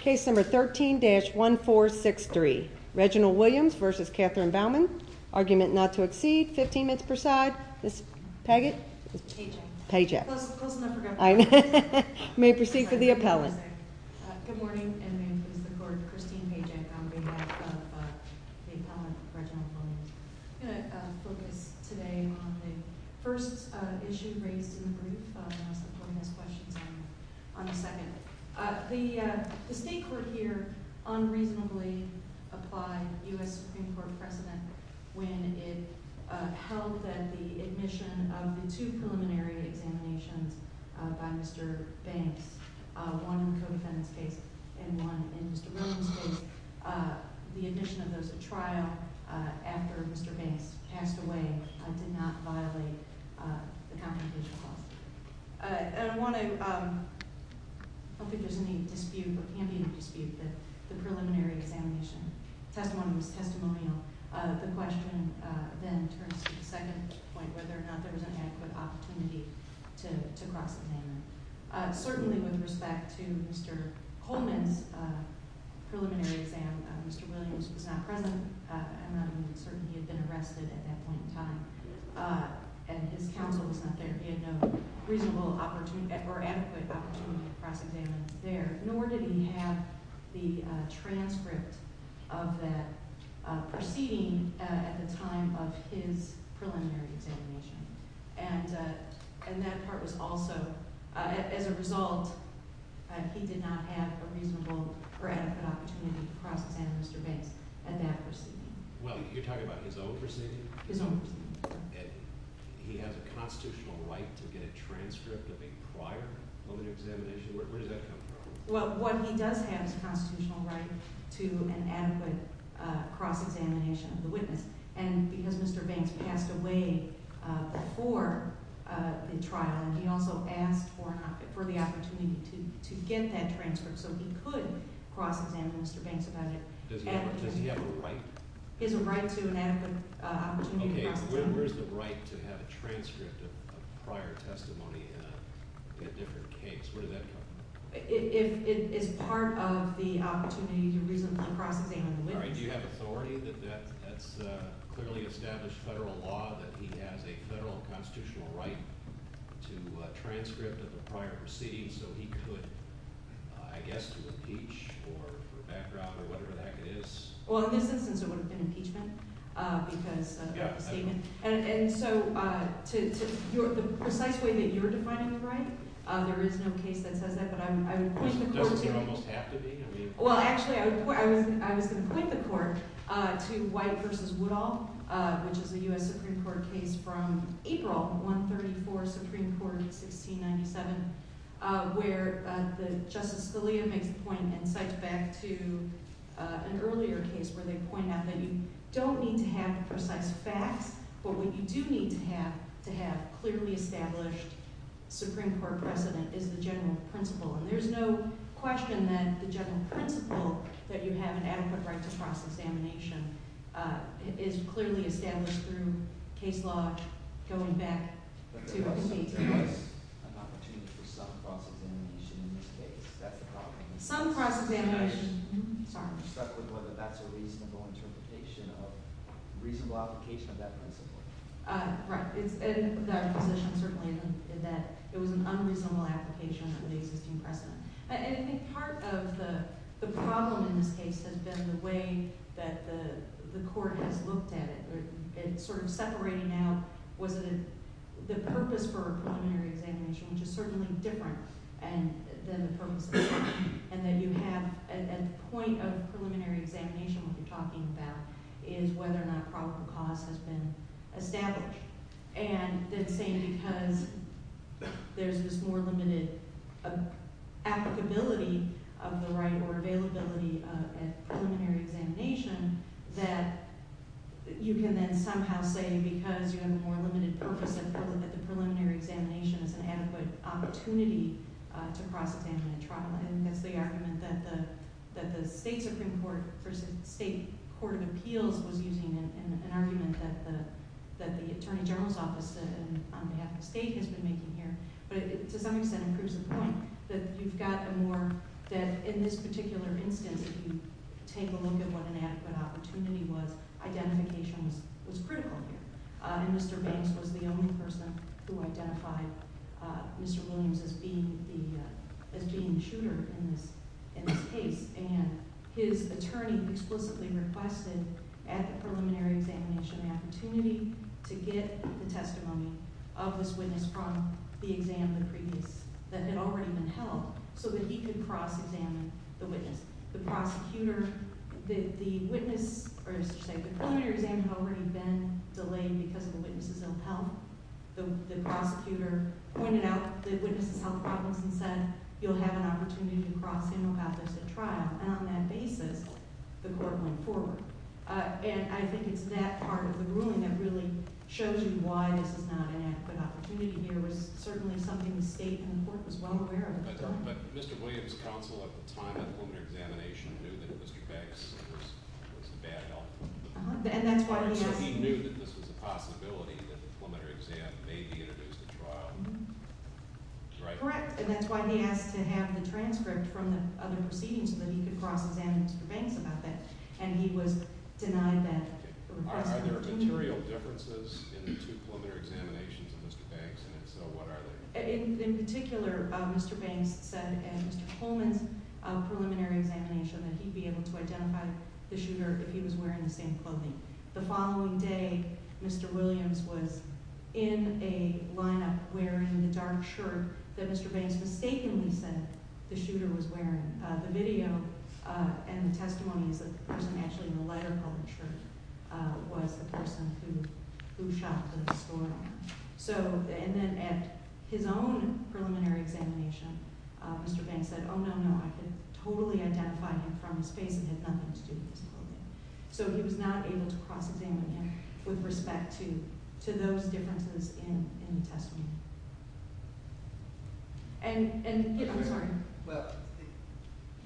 Case number 13-1463. Reginald Williams v. Katherine Bauman. Argument not to exceed 15 minutes per side. Ms. Paget? Paget. Close enough. May I proceed for the appellant? Good morning. My name is Christine Paget on behalf of the appellant, Reginald Williams. I'm going to focus today on the first issue raised in the brief. The State Court here unreasonably applied U.S. Supreme Court precedent when it held that the admission of the two preliminary examinations by Mr. Banks, one in the co-defendant's case and one in Mr. Williams' case, the admission of those at trial after Mr. Banks passed away did not violate the comprehensive clause. I don't think there's any dispute, or can be no dispute, that the preliminary examination testimony was testimonial. The question then turns to the second point, whether or not there was an adequate opportunity to cross-examine. Certainly with respect to Mr. Coleman's preliminary exam, Mr. Williams was not present. I'm not even certain he had been arrested at that point in time. And his counsel was not there. He had no reasonable or adequate opportunity to cross-examine there. Nor did he have the transcript of that proceeding at the time of his preliminary examination. And that part was also – as a result, he did not have a reasonable or adequate opportunity to cross-examine Mr. Banks at that proceeding. Well, you're talking about his own proceeding? His own proceeding. And he has a constitutional right to get a transcript of a prior preliminary examination? Where does that come from? Well, what he does have is a constitutional right to an adequate cross-examination of the witness. And because Mr. Banks passed away before the trial, he also asked for the opportunity to get that transcript so he could cross-examine Mr. Banks about it. Does he have a right? He has a right to an adequate opportunity to cross-examine. Okay, but where's the right to have a transcript of a prior testimony in a different case? Where does that come from? It's part of the opportunity to reasonably cross-examine the witness. Do you have authority that that's clearly established federal law, that he has a federal constitutional right to a transcript of a prior proceeding so he could, I guess, to impeach for background or whatever the heck it is? Well, in this instance, it would have been impeachment because – Yeah. And so to – the precise way that you're defining the right, there is no case that says that, but I would point the court to it. Doesn't it almost have to be? Well, actually, I was going to point the court to White v. Woodall, which is a U.S. Supreme Court case from April, 134 Supreme Court, 1697, where Justice Scalia makes a point and cites back to an earlier case where they point out that you don't need to have precise facts, but what you do need to have to have clearly established Supreme Court precedent is the general principle. And there's no question that the general principle that you have an adequate right to cross-examination is clearly established through case law going back to 1880s. But there was an opportunity for some cross-examination in this case. That's the problem. Some cross-examination – sorry. You're stuck with whether that's a reasonable interpretation of – reasonable application of that principle. Right. It's a position, certainly, that it was an unreasonable application of the existing precedent. And I think part of the problem in this case has been the way that the court has looked at it. It's sort of separating out was it – the purpose for a preliminary examination, which is certainly different than the purpose of the case, and that you have – at the point of preliminary examination, what you're talking about is whether or not probable cause has been established. And then saying because there's this more limited applicability of the right or availability at preliminary examination that you can then somehow say because you have a more limited purpose that the preliminary examination is an adequate opportunity to cross-examine in trial. And that's the argument that the State Supreme Court versus State Court of Appeals was using in an argument that the Attorney General's Office on behalf of the state has been making here. But to some extent, it proves the point that you've got a more – that in this particular instance, if you take a look at what an adequate opportunity was, identification was critical here. And Mr. Banks was the only person who identified Mr. Williams as being the shooter in this case. And his attorney explicitly requested at the preliminary examination the opportunity to get the testimony of this witness from the exam of the previous – that had already been held so that he could cross-examine the witness. The prosecutor – the witness – or as you say, the preliminary exam had already been delayed because of a witness's ill health. The prosecutor pointed out the witness's health problems and said, you'll have an opportunity to cross-examine about this at trial. And on that basis, the court went forward. And I think it's that part of the ruling that really shows you why this is not an adequate opportunity here. It was certainly something the State and the court was well aware of at the time. But Mr. Williams' counsel at the time of the preliminary examination knew that Mr. Banks was the bad guy. And that's why he asked – So he knew that this was a possibility that the preliminary exam may be introduced at trial. Correct. And that's why he asked to have the transcript from the other proceedings so that he could cross-examine Mr. Banks about that. And he was denied that request. Are there material differences in the two preliminary examinations of Mr. Banks? And if so, what are they? In particular, Mr. Banks said at Mr. Coleman's preliminary examination that he'd be able to identify the shooter if he was wearing the same clothing. The following day, Mr. Williams was in a lineup wearing the dark shirt that Mr. Banks mistakenly said the shooter was wearing. The video and the testimony is that the person actually in the lighter-colored shirt was the person who shot the story. So – and then at his own preliminary examination, Mr. Banks said, oh, no, no, I could totally identify him from his face. It had nothing to do with his clothing. So he was not able to cross-examine him with respect to those differences in the testimony. And – I'm sorry. Well,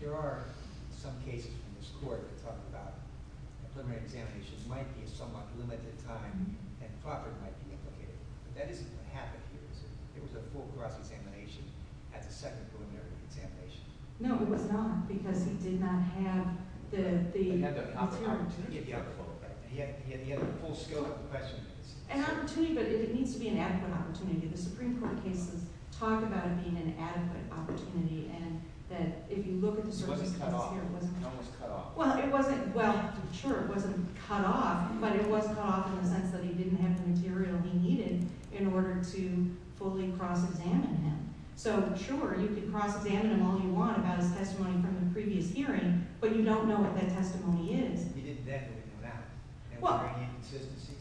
there are some cases in this court that talk about preliminary examinations might be a somewhat limited time and profit might be implicated. But that isn't what happened here, is it? There was a full cross-examination at the second preliminary examination. No, it was not because he did not have the opportunity. He had the opportunity. He had the opportunity. He had the full scope of the question. An opportunity, but it needs to be an adequate opportunity. The Supreme Court cases talk about it being an adequate opportunity and that if you look at the circumstances here – It wasn't cut off. It wasn't cut off. Well, it wasn't – well, sure, it wasn't cut off, but it was cut off in the sense that he didn't have the material he needed in order to fully cross-examine him. So, sure, you could cross-examine him all you want about his testimony from the previous hearing, but you don't know what that testimony is. He didn't definitely know that. Well – And what were the inconsistencies?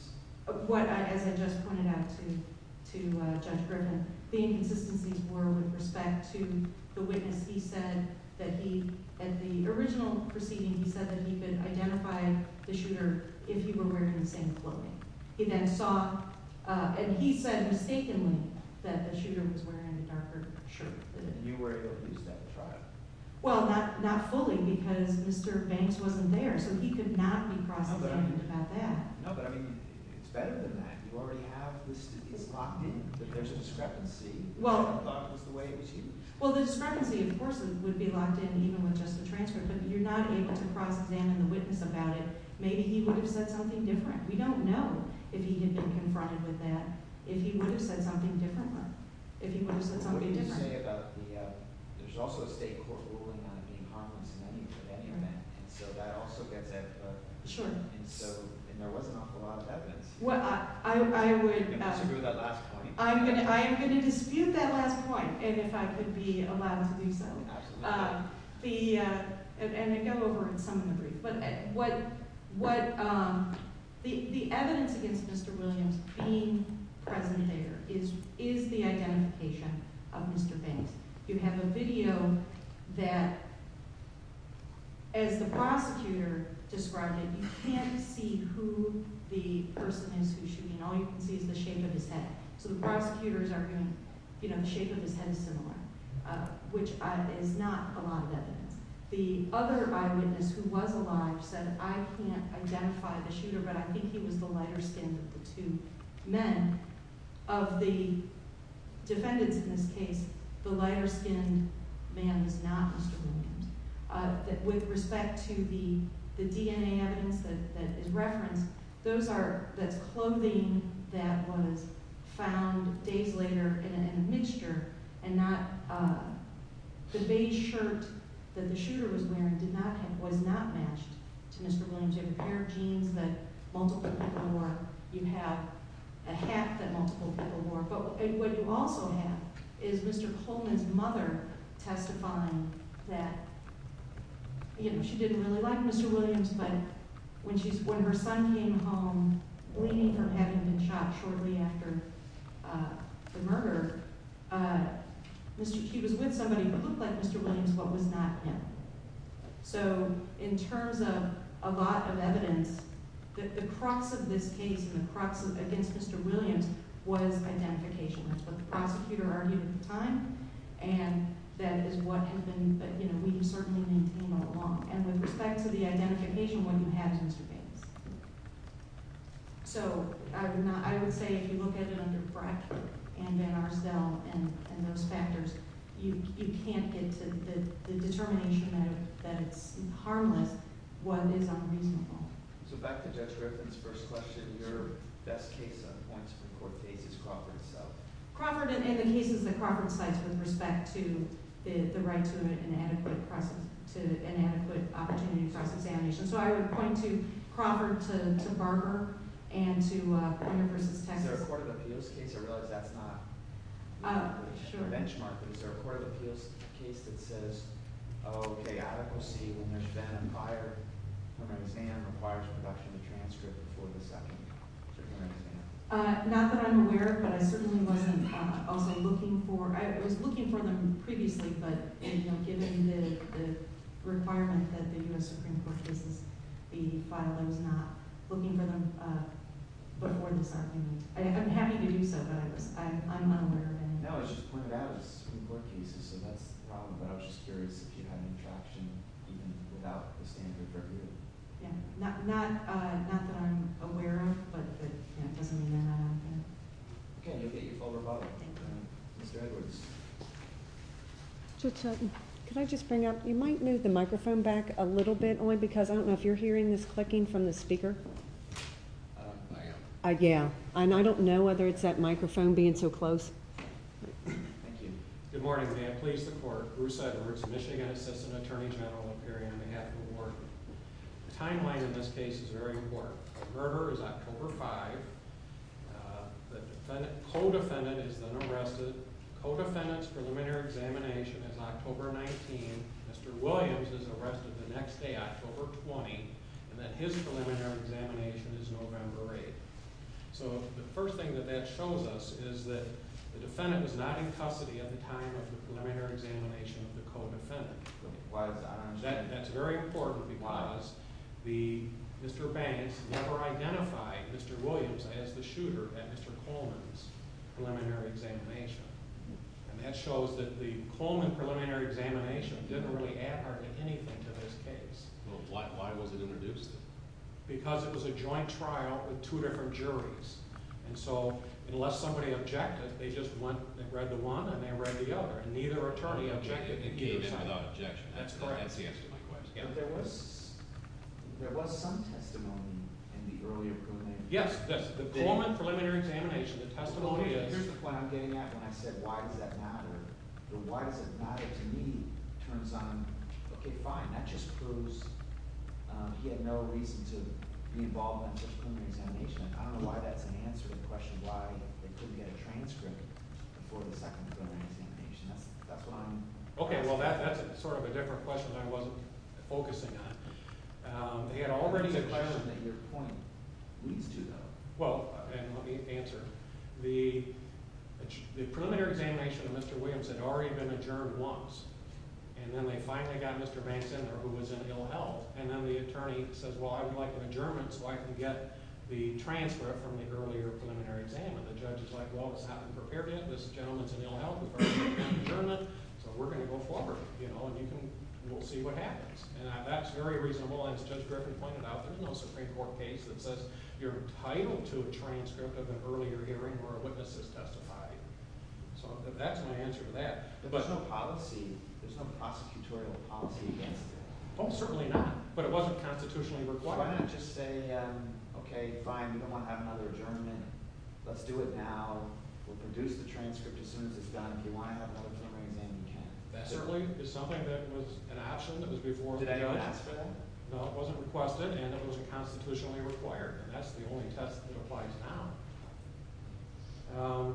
As I just pointed out to Judge Griffin, the inconsistencies were with respect to the witness. He said that he – at the original proceeding, he said that he could identify the shooter if he were wearing the same clothing. He then saw – and he said mistakenly that the shooter was wearing a darker shirt. And you were able to use that at trial? Well, not fully because Mr. Banks wasn't there, so he could not be cross-examined about that. No, but, I mean, it's better than that. You already have – it's locked in that there's a discrepancy. Well – I thought it was the way it was used. Well, the discrepancy, of course, would be locked in even with just the transcript, but you're not able to cross-examine the witness about it. Maybe he would have said something different. We don't know if he had been confronted with that, if he would have said something differently, if he would have said something different. What did you say about the – there's also a state court ruling on it being harmless in any event, and so that also gets at – Sure. And so – and there was an awful lot of evidence. Well, I would – Are you going to disagree with that last point? I am going to dispute that last point, and if I could be allowed to do so. Absolutely. The – and then go over some of the briefs. But what – the evidence against Mr. Williams being present there is the identification of Mr. Banks. You have a video that, as the prosecutor described it, you can't see who the person is who's shooting. All you can see is the shape of his head. So the prosecutors are going, you know, the shape of his head is similar, which is not a lot of evidence. The other eyewitness who was alive said, I can't identify the shooter, but I think he was the lighter skinned of the two men. And of the defendants in this case, the lighter skinned man was not Mr. Williams. With respect to the DNA evidence that is referenced, those are – that's clothing that was found days later in a mixture and not – the beige shirt that the shooter was wearing did not have – was not matched to Mr. Williams. You have a pair of jeans that multiple people wore. You have a hat that multiple people wore. But what you also have is Mr. Coleman's mother testifying that, you know, she didn't really like Mr. Williams, but when she – when her son came home bleeding from having been shot shortly after the murder, Mr. – he was with somebody who looked like Mr. Williams but was not him. So in terms of a lot of evidence, the crux of this case and the crux against Mr. Williams was identification. That's what the prosecutor argued at the time, and that is what has been – that, you know, we have certainly maintained all along. And with respect to the identification, what you have is Mr. Davis. So I would not – I would say if you look at it under Brackett and Van Arsdell and those factors, you can't get to the determination that it's harmless what is unreasonable. So back to Judge Griffin's first question, your best case on points of the court case is Crawford itself. Crawford and the cases that Crawford cites with respect to the right to an adequate – to an adequate opportunity for us to examine. So I would point to Crawford, to Barker, and to Warner v. Texas. Is there a court of appeals case – I realize that's not a benchmark, but is there a court of appeals case that says, oh, okay, adequacy when there's been a prior – when an exam requires a production of transcript before the second exam? Not that I'm aware of, but I certainly wasn't also looking for – I was looking for them previously, but given the requirement that the U.S. Supreme Court cases be filed, I was not looking for them before this argument. I'm happy to do so, but I'm unaware of any. No, I just pointed out it's a Supreme Court case, so that's the problem, but I was just curious if you had any traction even without the standard tributary. Yeah, not that I'm aware of, but it doesn't mean that I – yeah. Could I just bring up – you might move the microphone back a little bit, only because I don't know if you're hearing this clicking from the speaker. I am. Yeah, and I don't know whether it's that microphone being so close. Thank you. Good morning. May I please the court? Bruce Edwards, Michigan Assistant Attorney General, appearing on behalf of the board. The timeline in this case is very important. The murder is October 5. The co-defendant is then arrested. The co-defendant's preliminary examination is October 19. Mr. Williams is arrested the next day, October 20, and then his preliminary examination is November 8. So the first thing that that shows us is that the defendant was not in custody at the time of the preliminary examination of the co-defendant. Why is that? That's very important because Mr. Banks never identified Mr. Williams as the shooter at Mr. Coleman's preliminary examination. And that shows that the Coleman preliminary examination didn't really add hardly anything to this case. Well, why was it introduced? Because it was a joint trial with two different juries. And so unless somebody objected, they just read the one and they read the other, and neither attorney objected. That's the answer to my question. But there was some testimony in the earlier preliminary examination. Yes, the Coleman preliminary examination. Here's the point I'm getting at when I said why does that matter. The why does it matter to me turns on, okay, fine. That just proves he had no reason to be involved in such a preliminary examination. I don't know why that's an answer to the question why they couldn't get a transcript before the second preliminary examination. Okay, well, that's sort of a different question I wasn't focusing on. They had already declared that your point leads to that. Well, let me answer. The preliminary examination of Mr. Williams had already been adjourned once. And then they finally got Mr. Banks in there who was in ill health. And then the attorney says, well, I would like an adjournment so I can get the transcript from the earlier preliminary exam. And the judge is like, well, it's not been prepared yet. This gentleman's in ill health. We've already got an adjournment. So we're going to go forward, and we'll see what happens. And that's very reasonable, as Judge Griffin pointed out. There's no Supreme Court case that says you're entitled to a transcript of an earlier hearing where a witness has testified. So that's my answer to that. There's no policy. There's no prosecutorial policy against it. Oh, certainly not. But it wasn't constitutionally required. So why not just say, okay, fine, we don't want to have another adjournment. Let's do it now. We'll produce the transcript as soon as it's done. If you want to have another preliminary exam, you can. That certainly is something that was an option that was before the judge. Did anyone ask for that? No, it wasn't requested, and it wasn't constitutionally required. And that's the only test that applies now.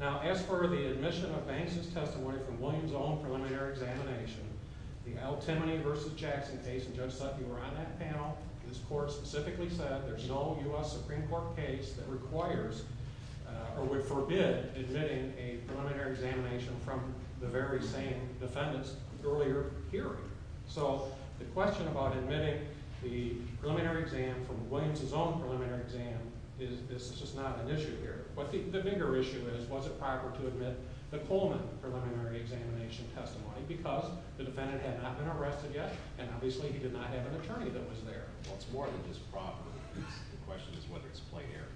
Now, as per the admission of Banks' testimony from Williams' own preliminary examination, the Al Timoney v. Jackson case, and Judge Sutton, you were on that panel, this court specifically said there's no U.S. Supreme Court case that requires or would forbid admitting a preliminary examination from the very same defendant's earlier hearing. So the question about admitting the preliminary exam from Williams' own preliminary exam is just not an issue here. The bigger issue is was it proper to admit the Coleman preliminary examination testimony because the defendant had not been arrested yet, and obviously he did not have an attorney that was there. Well, it's more than just proper. The question is whether it's a plate error.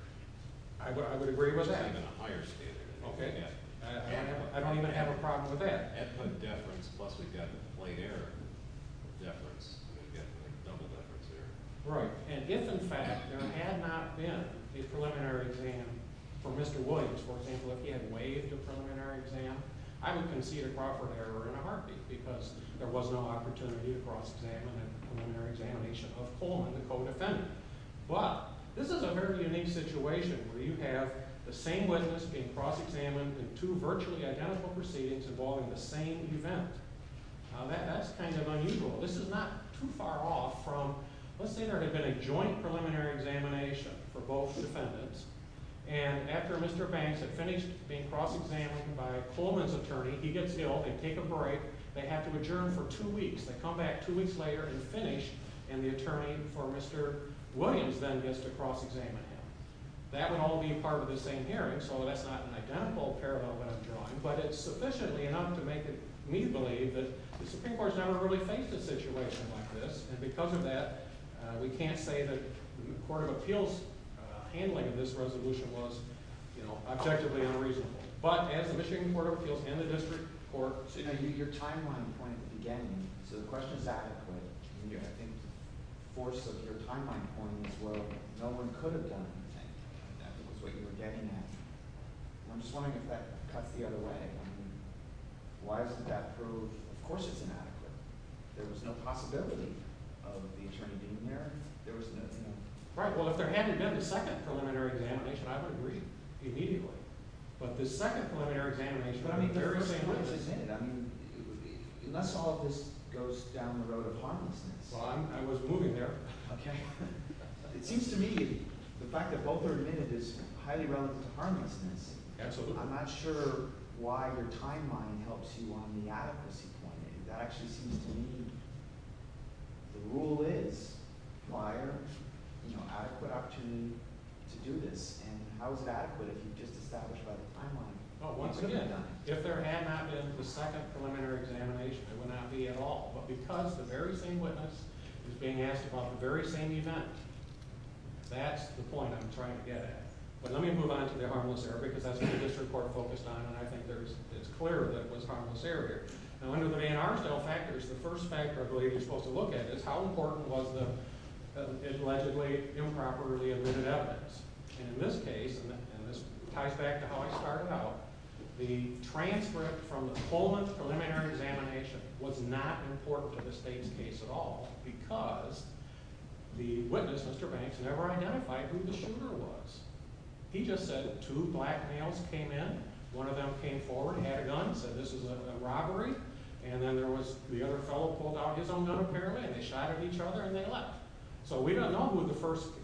I would agree with that. It's even a higher standard. Okay. I don't even have a problem with that. I'd put deference, plus we've got a plate error of deference, and we've got a double deference error. Right, and if, in fact, there had not been a preliminary exam for Mr. Williams, for example, if he had waived a preliminary exam, I would concede a proper error in a heartbeat because there was no opportunity to cross-examine a preliminary examination of Coleman, the co-defendant. But this is a very unique situation where you have the same witness being cross-examined in two virtually identical proceedings involving the same event. That's kind of unusual. This is not too far off from let's say there had been a joint preliminary examination for both defendants, and after Mr. Banks had finished being cross-examined by Coleman's attorney, he gets ill. They take a break. They have to adjourn for two weeks. They come back two weeks later and finish, and the attorney for Mr. Williams then gets to cross-examine him. That would all be a part of the same hearing, so that's not an identical parallel that I'm drawing, but it's sufficiently enough to make me believe that the Supreme Court has never really faced a situation like this, and because of that, we can't say that the Court of Appeals' handling of this resolution was objectively unreasonable. But as the Michigan Court of Appeals and the district court— Your timeline point at the beginning, so the question is adequate. I think the force of your timeline point is where no one could have done anything. That was what you were getting at. I'm just wondering if that cuts the other way. Why isn't that proved? Of course it's inadequate. There was no possibility of the attorney being there. Right. Well, if there hadn't been a second preliminary examination, I would agree immediately. But the second preliminary examination— But I mean, there is a— I mean, unless all of this goes down the road of harmlessness— Well, I was moving there. Okay. It seems to me the fact that both are admitted is highly relevant to harmlessness. Absolutely. I'm not sure why your timeline helps you on the adequacy point. It actually seems to me the rule is prior adequate opportunity to do this. And how is it adequate if you've just established by the timeline? Well, once again, if there had not been the second preliminary examination, there would not be at all. But because the very same witness is being asked about the very same event, that's the point I'm trying to get at. But let me move on to the harmless error because that's what the district court focused on, and I think it's clear that it was harmless error here. Now, under the Van Arsdale factors, the first factor I believe you're supposed to look at is how important was the allegedly improperly admitted evidence. And in this case—and this ties back to how I started out— the transcript from the Pullman preliminary examination was not important to the state's case at all because the witness, Mr. Banks, never identified who the shooter was. He just said two black males came in. One of them came forward, had a gun, said this is a robbery, and then there was the other fellow pulled out his own gun apparently, and they shot at each other and they left. So we don't know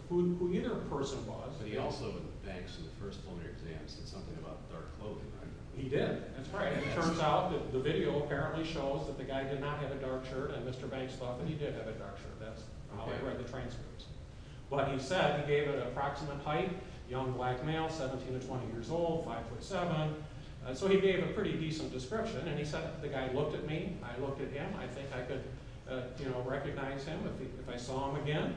who either person was. But he also, with Banks in the first preliminary exam, said something about dark clothing, right? He did. That's right. It turns out that the video apparently shows that the guy did not have a dark shirt, and Mr. Banks thought that he did have a dark shirt. That's how he read the transcripts. But he said he gave an approximate height, young black male, 17 to 20 years old, 5'7". So he gave a pretty decent description, and he said the guy looked at me, I looked at him, I think I could recognize him if I saw him again.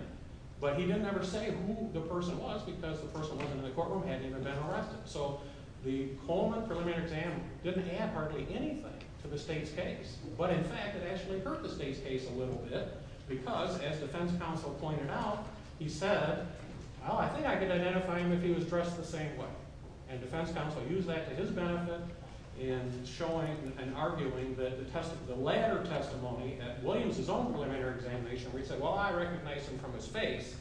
But he didn't ever say who the person was because the person wasn't in the courtroom, hadn't even been arrested. So the Pullman preliminary exam didn't add hardly anything to the state's case. But in fact, it actually hurt the state's case a little bit because, as defense counsel pointed out, he said, well, I think I could identify him if he was dressed the same way. And defense counsel used that to his benefit in showing and arguing the latter testimony at Williams' own preliminary examination where he said, well, I recognize him from his face,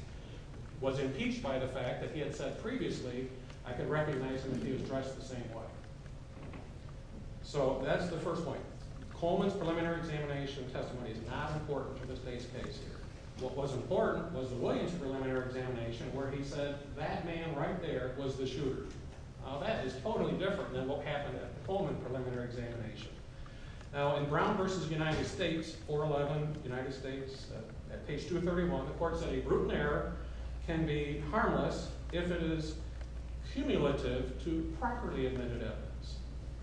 was impeached by the fact that he had said previously I could recognize him if he was dressed the same way. So that's the first point. Pullman's preliminary examination testimony is not important to the state's case here. What was important was the Williams' preliminary examination where he said that man right there was the shooter. Now, that is totally different than what happened at the Pullman preliminary examination. Now, in Brown v. United States, 411, United States, at page 231, the court said a brutal error can be harmless if it is cumulative to properly admitted evidence.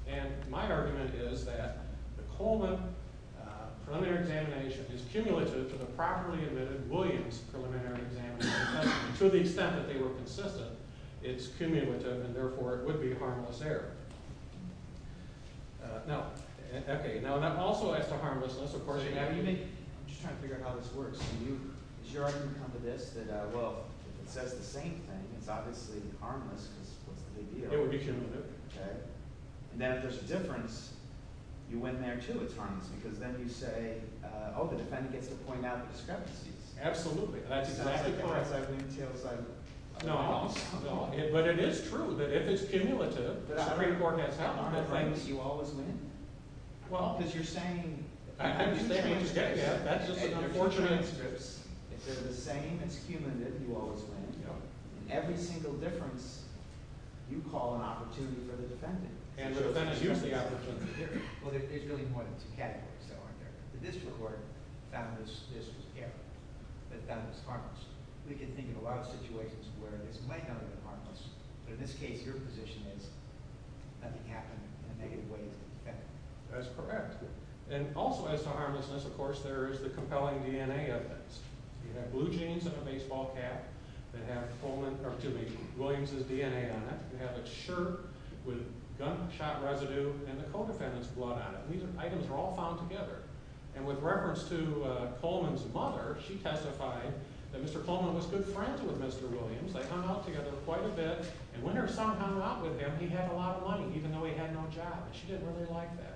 And my argument is that the Pullman preliminary examination is cumulative to the properly admitted Williams' preliminary examination testimony to the extent that they were consistent. It's cumulative and, therefore, it would be a harmless error. Now, okay, also as to harmlessness, of course, you have unique – I'm just trying to figure out how this works. Does your argument come to this that, well, if it says the same thing, it's obviously harmless because what's the big deal? It would be cumulative. Okay. And then if there's a difference, you win there too. It's harmless because then you say, oh, the defendant gets to point out the discrepancies. Absolutely. That's exactly correct. It's not as important as I've been telling you. No, no. But it is true that if it's cumulative – Every court has done harmless things, you always win. Well – Because you're saying – I'm just saying – That's just an unfortunate – If they're the same, it's cumulative, you always win. Every single difference, you call an opportunity for the defendant. And the defendant uses the opportunity. Well, there's really more than two categories, though, aren't there? The district court found this was careful. It found this harmless. We can think of a lot of situations where this might not have been harmless, but in this case, your position is nothing happened in a negative way to the defendant. That's correct. And also as to harmlessness, of course, there is the compelling DNA of this. You have blue jeans and a baseball cap that have Williams' DNA on it. You have a shirt with gunshot residue and the co-defendant's blood on it. These items are all found together. And with reference to Coleman's mother, she testified that Mr. Coleman was good friends with Mr. Williams. They hung out together quite a bit. And when her son hung out with him, he had a lot of money, even though he had no job. And she didn't really like that.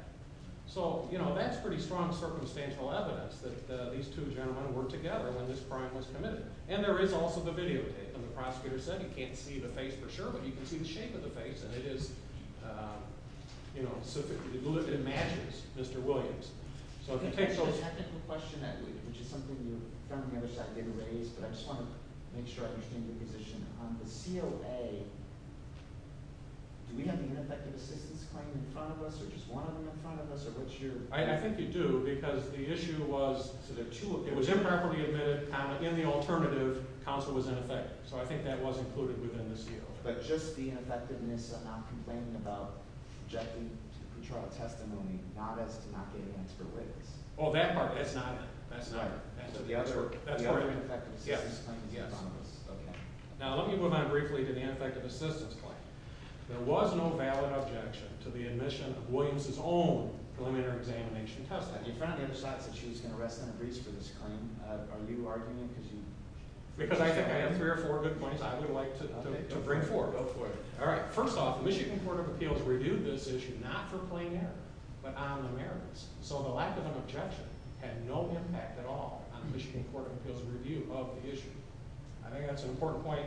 So, you know, that's pretty strong circumstantial evidence that these two gentlemen were together when this crime was committed. And there is also the videotape. And the prosecutor said he can't see the face for sure, but he can see the shape of the face. And it is, you know, it matches Mr. Williams. I think there's a technical question I believe, which is something you found on the other side that you raised, but I just want to make sure I understand your position. On the COA, do we have the ineffective assistance claim in front of us or just one of them in front of us? I think you do because the issue was it was improperly admitted in the alternative. Counsel was ineffective. So I think that was included within the COA. But just the ineffectiveness of not complaining about objective trial testimony, not as to not getting expert witness. Oh, that part, that's not it. So the other ineffective assistance claim is in front of us. Okay. Now let me move on briefly to the ineffective assistance claim. There was no valid objection to the admission of Williams' own preliminary examination test. You found on the other side that she was going to rest on her knees for this claim. Are you arguing because you – Because I think I have three or four good points I would like to bring forward. Go for it. All right. First off, the Michigan Court of Appeals reviewed this issue not for plain error but on the merits. So the lack of an objection had no impact at all on the Michigan Court of Appeals' review of the issue. I think that's an important point,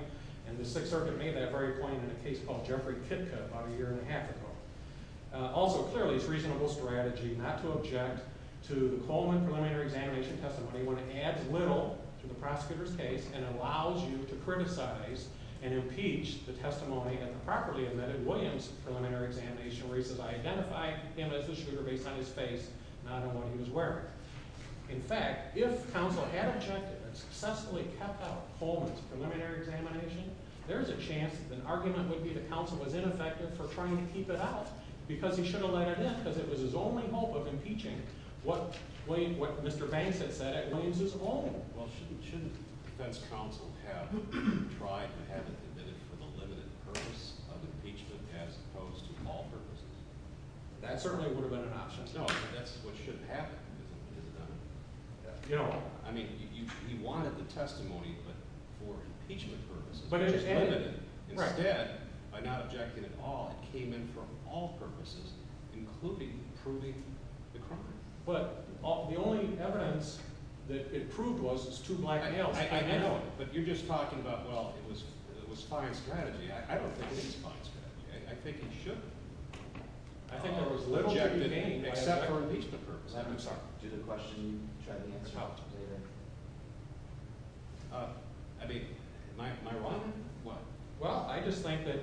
and the Sixth Circuit made that very point in a case called Jeffrey Kitka about a year and a half ago. Also, clearly, it's a reasonable strategy not to object to the Coleman preliminary examination testimony when it adds little to the prosecutor's case and allows you to criticize and impeach the testimony of the properly admitted Williams preliminary examination where he says, I identified him as the shooter based on his face, not on what he was wearing. In fact, if counsel had objected and successfully kept out Coleman's preliminary examination, there's a chance that an argument would be that counsel was ineffective for trying to keep it out because he should have let it in because it was his only hope of impeaching what Mr. Banks had said at Williams' own. Well, shouldn't defense counsel have tried to have it admitted for the limited purpose of impeachment as opposed to all purposes? That certainly would have been an option. No, that's what should have happened. I mean, he wanted the testimony, but for impeachment purposes. Instead, by not objecting at all, it came in for all purposes, including proving the crime. But the only evidence that it proved was his two black nails. I know, but you're just talking about, well, it was fine strategy. I don't think it is fine strategy. I think it should have. I think there was little to be gained except for impeachment purposes. I'm sorry, did the question you tried to answer help? I mean, am I wrong? What? Well, I just think that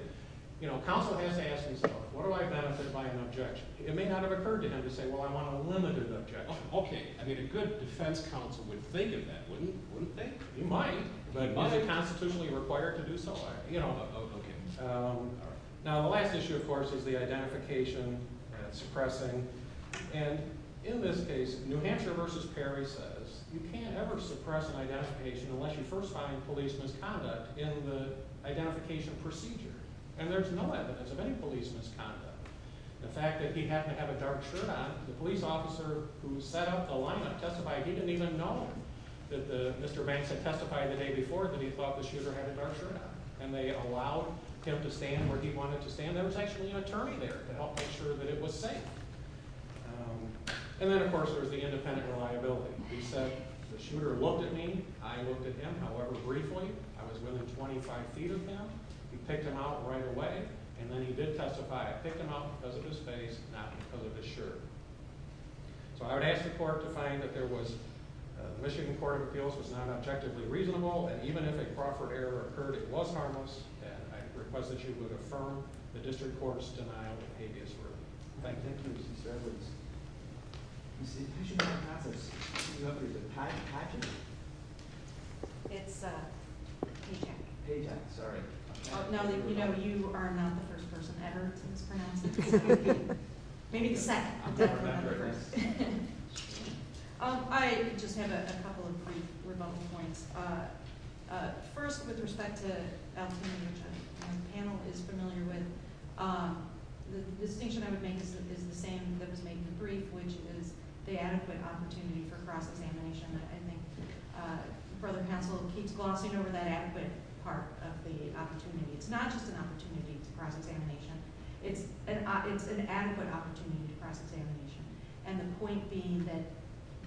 counsel has to ask himself, what do I benefit by an objection? It may not have occurred to him to say, well, I want a limited objection. Okay. I mean, a good defense counsel would think of that, wouldn't he? Wouldn't they? He might. But is it constitutionally required to do so? Okay. Now, the last issue, of course, is the identification and suppressing. And in this case, New Hampshire v. Perry says you can't ever suppress an identification unless you first find police misconduct in the identification procedure. And there's no evidence of any police misconduct. The fact that he happened to have a dark shirt on, the police officer who set up the lineup testified, he didn't even know that Mr. Banks had testified the day before that he thought the shooter had a dark shirt on. And they allowed him to stand where he wanted to stand. There was actually an attorney there to help make sure that it was safe. And then, of course, there's the independent reliability. He said the shooter looked at me. I looked at him. However, briefly, I was within 25 feet of him. He picked him out right away, and then he did testify. I picked him out because of his face, not because of his shirt. So I would ask the court to find that there was the Michigan Court of Appeals was not objectively reasonable, and even if a Crawford error occurred, it was harmless, and I request that you would affirm the district court's denial of habeas verdict. Thank you. Thank you, Mr. Stavridis. Ms. Stavridis, do you have a patent? It's a paycheck. Paycheck, sorry. No, you know, you are not the first person ever to mispronounce it. Maybe the second. I just have a couple of brief rebuttal points. First, with respect to Altina, which the panel is familiar with, the distinction I would make is the same that was made in the brief, which is the adequate opportunity for cross-examination. I think the further counsel keeps glossing over that adequate part of the opportunity. It's not just an opportunity to cross-examination. It's an adequate opportunity to cross-examination, and the point being that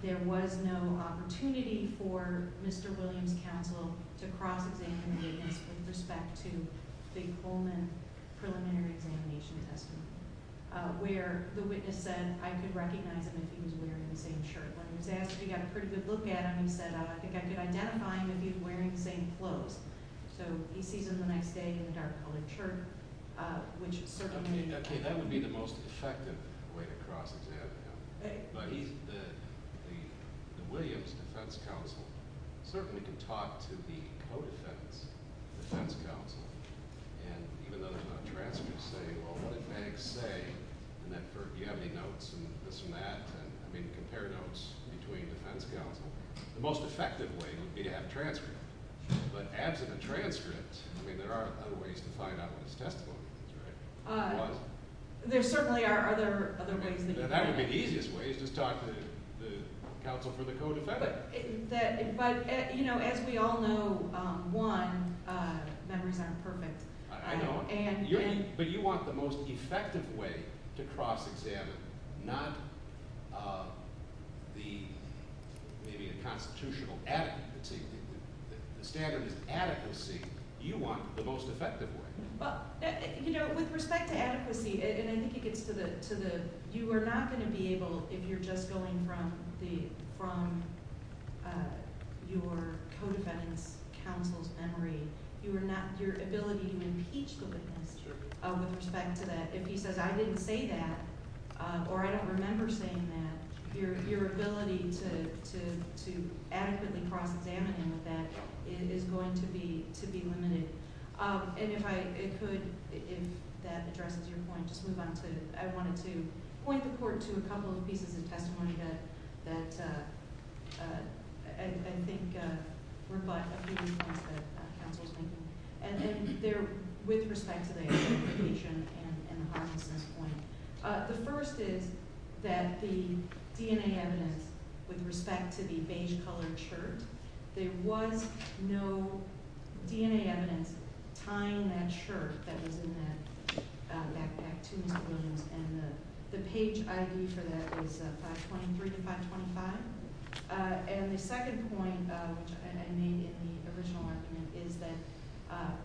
there was no opportunity for Mr. Williams' counsel to cross-examine the witness with respect to the Coleman preliminary examination testimony, where the witness said, I could recognize him if he was wearing the same shirt. When he was asked if he got a pretty good look at him, he said, I think I could identify him if he was wearing the same clothes. So he sees him the next day in a dark-colored shirt, which certainly— Okay, that would be the most effective way to cross-examine him. But the Williams defense counsel certainly can talk to the co-defense defense counsel, and even though there's not a transcript saying, well, what did Meg say, and do you have any notes and this and that, and, I mean, compare notes between defense counsel, the most effective way would be to have a transcript. But absent a transcript, I mean, there are other ways to find out what his testimony is, right? There certainly are other ways. That would be the easiest way is just talk to the counsel for the co-defendant. But, you know, as we all know, one, memories aren't perfect. I know, but you want the most effective way to cross-examine, not maybe the constitutional adequacy. The standard is adequacy. You want the most effective way. Well, you know, with respect to adequacy, and I think it gets to the you are not going to be able, if you're just going from your co-defendant's counsel's memory, your ability to impeach the witness with respect to that. If he says, I didn't say that, or I don't remember saying that, your ability to adequately cross-examine him with that is going to be limited. And if I could, if that addresses your point, just move on to, I wanted to point the court to a couple of pieces of testimony that I think reflect a few of the points that counsel is making. And they're with respect to the identification and the homelessness point. The first is that the DNA evidence with respect to the beige-colored shirt, there was no DNA evidence tying that shirt that was in that backpack to Mr. Williams, and the page ID for that is 523 to 525. And the second point, which I made in the original argument, is that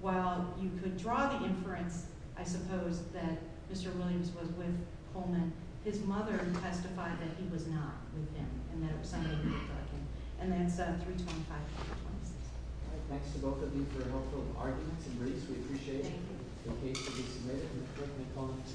while you could draw the inference, I suppose, that Mr. Williams was with Coleman, his mother testified that he was not with him, and that it was somebody who was drugging him. And that's 325 to 326. All right. Thanks to both of you for helpful arguments. And, Rhys, we appreciate it. Thank you.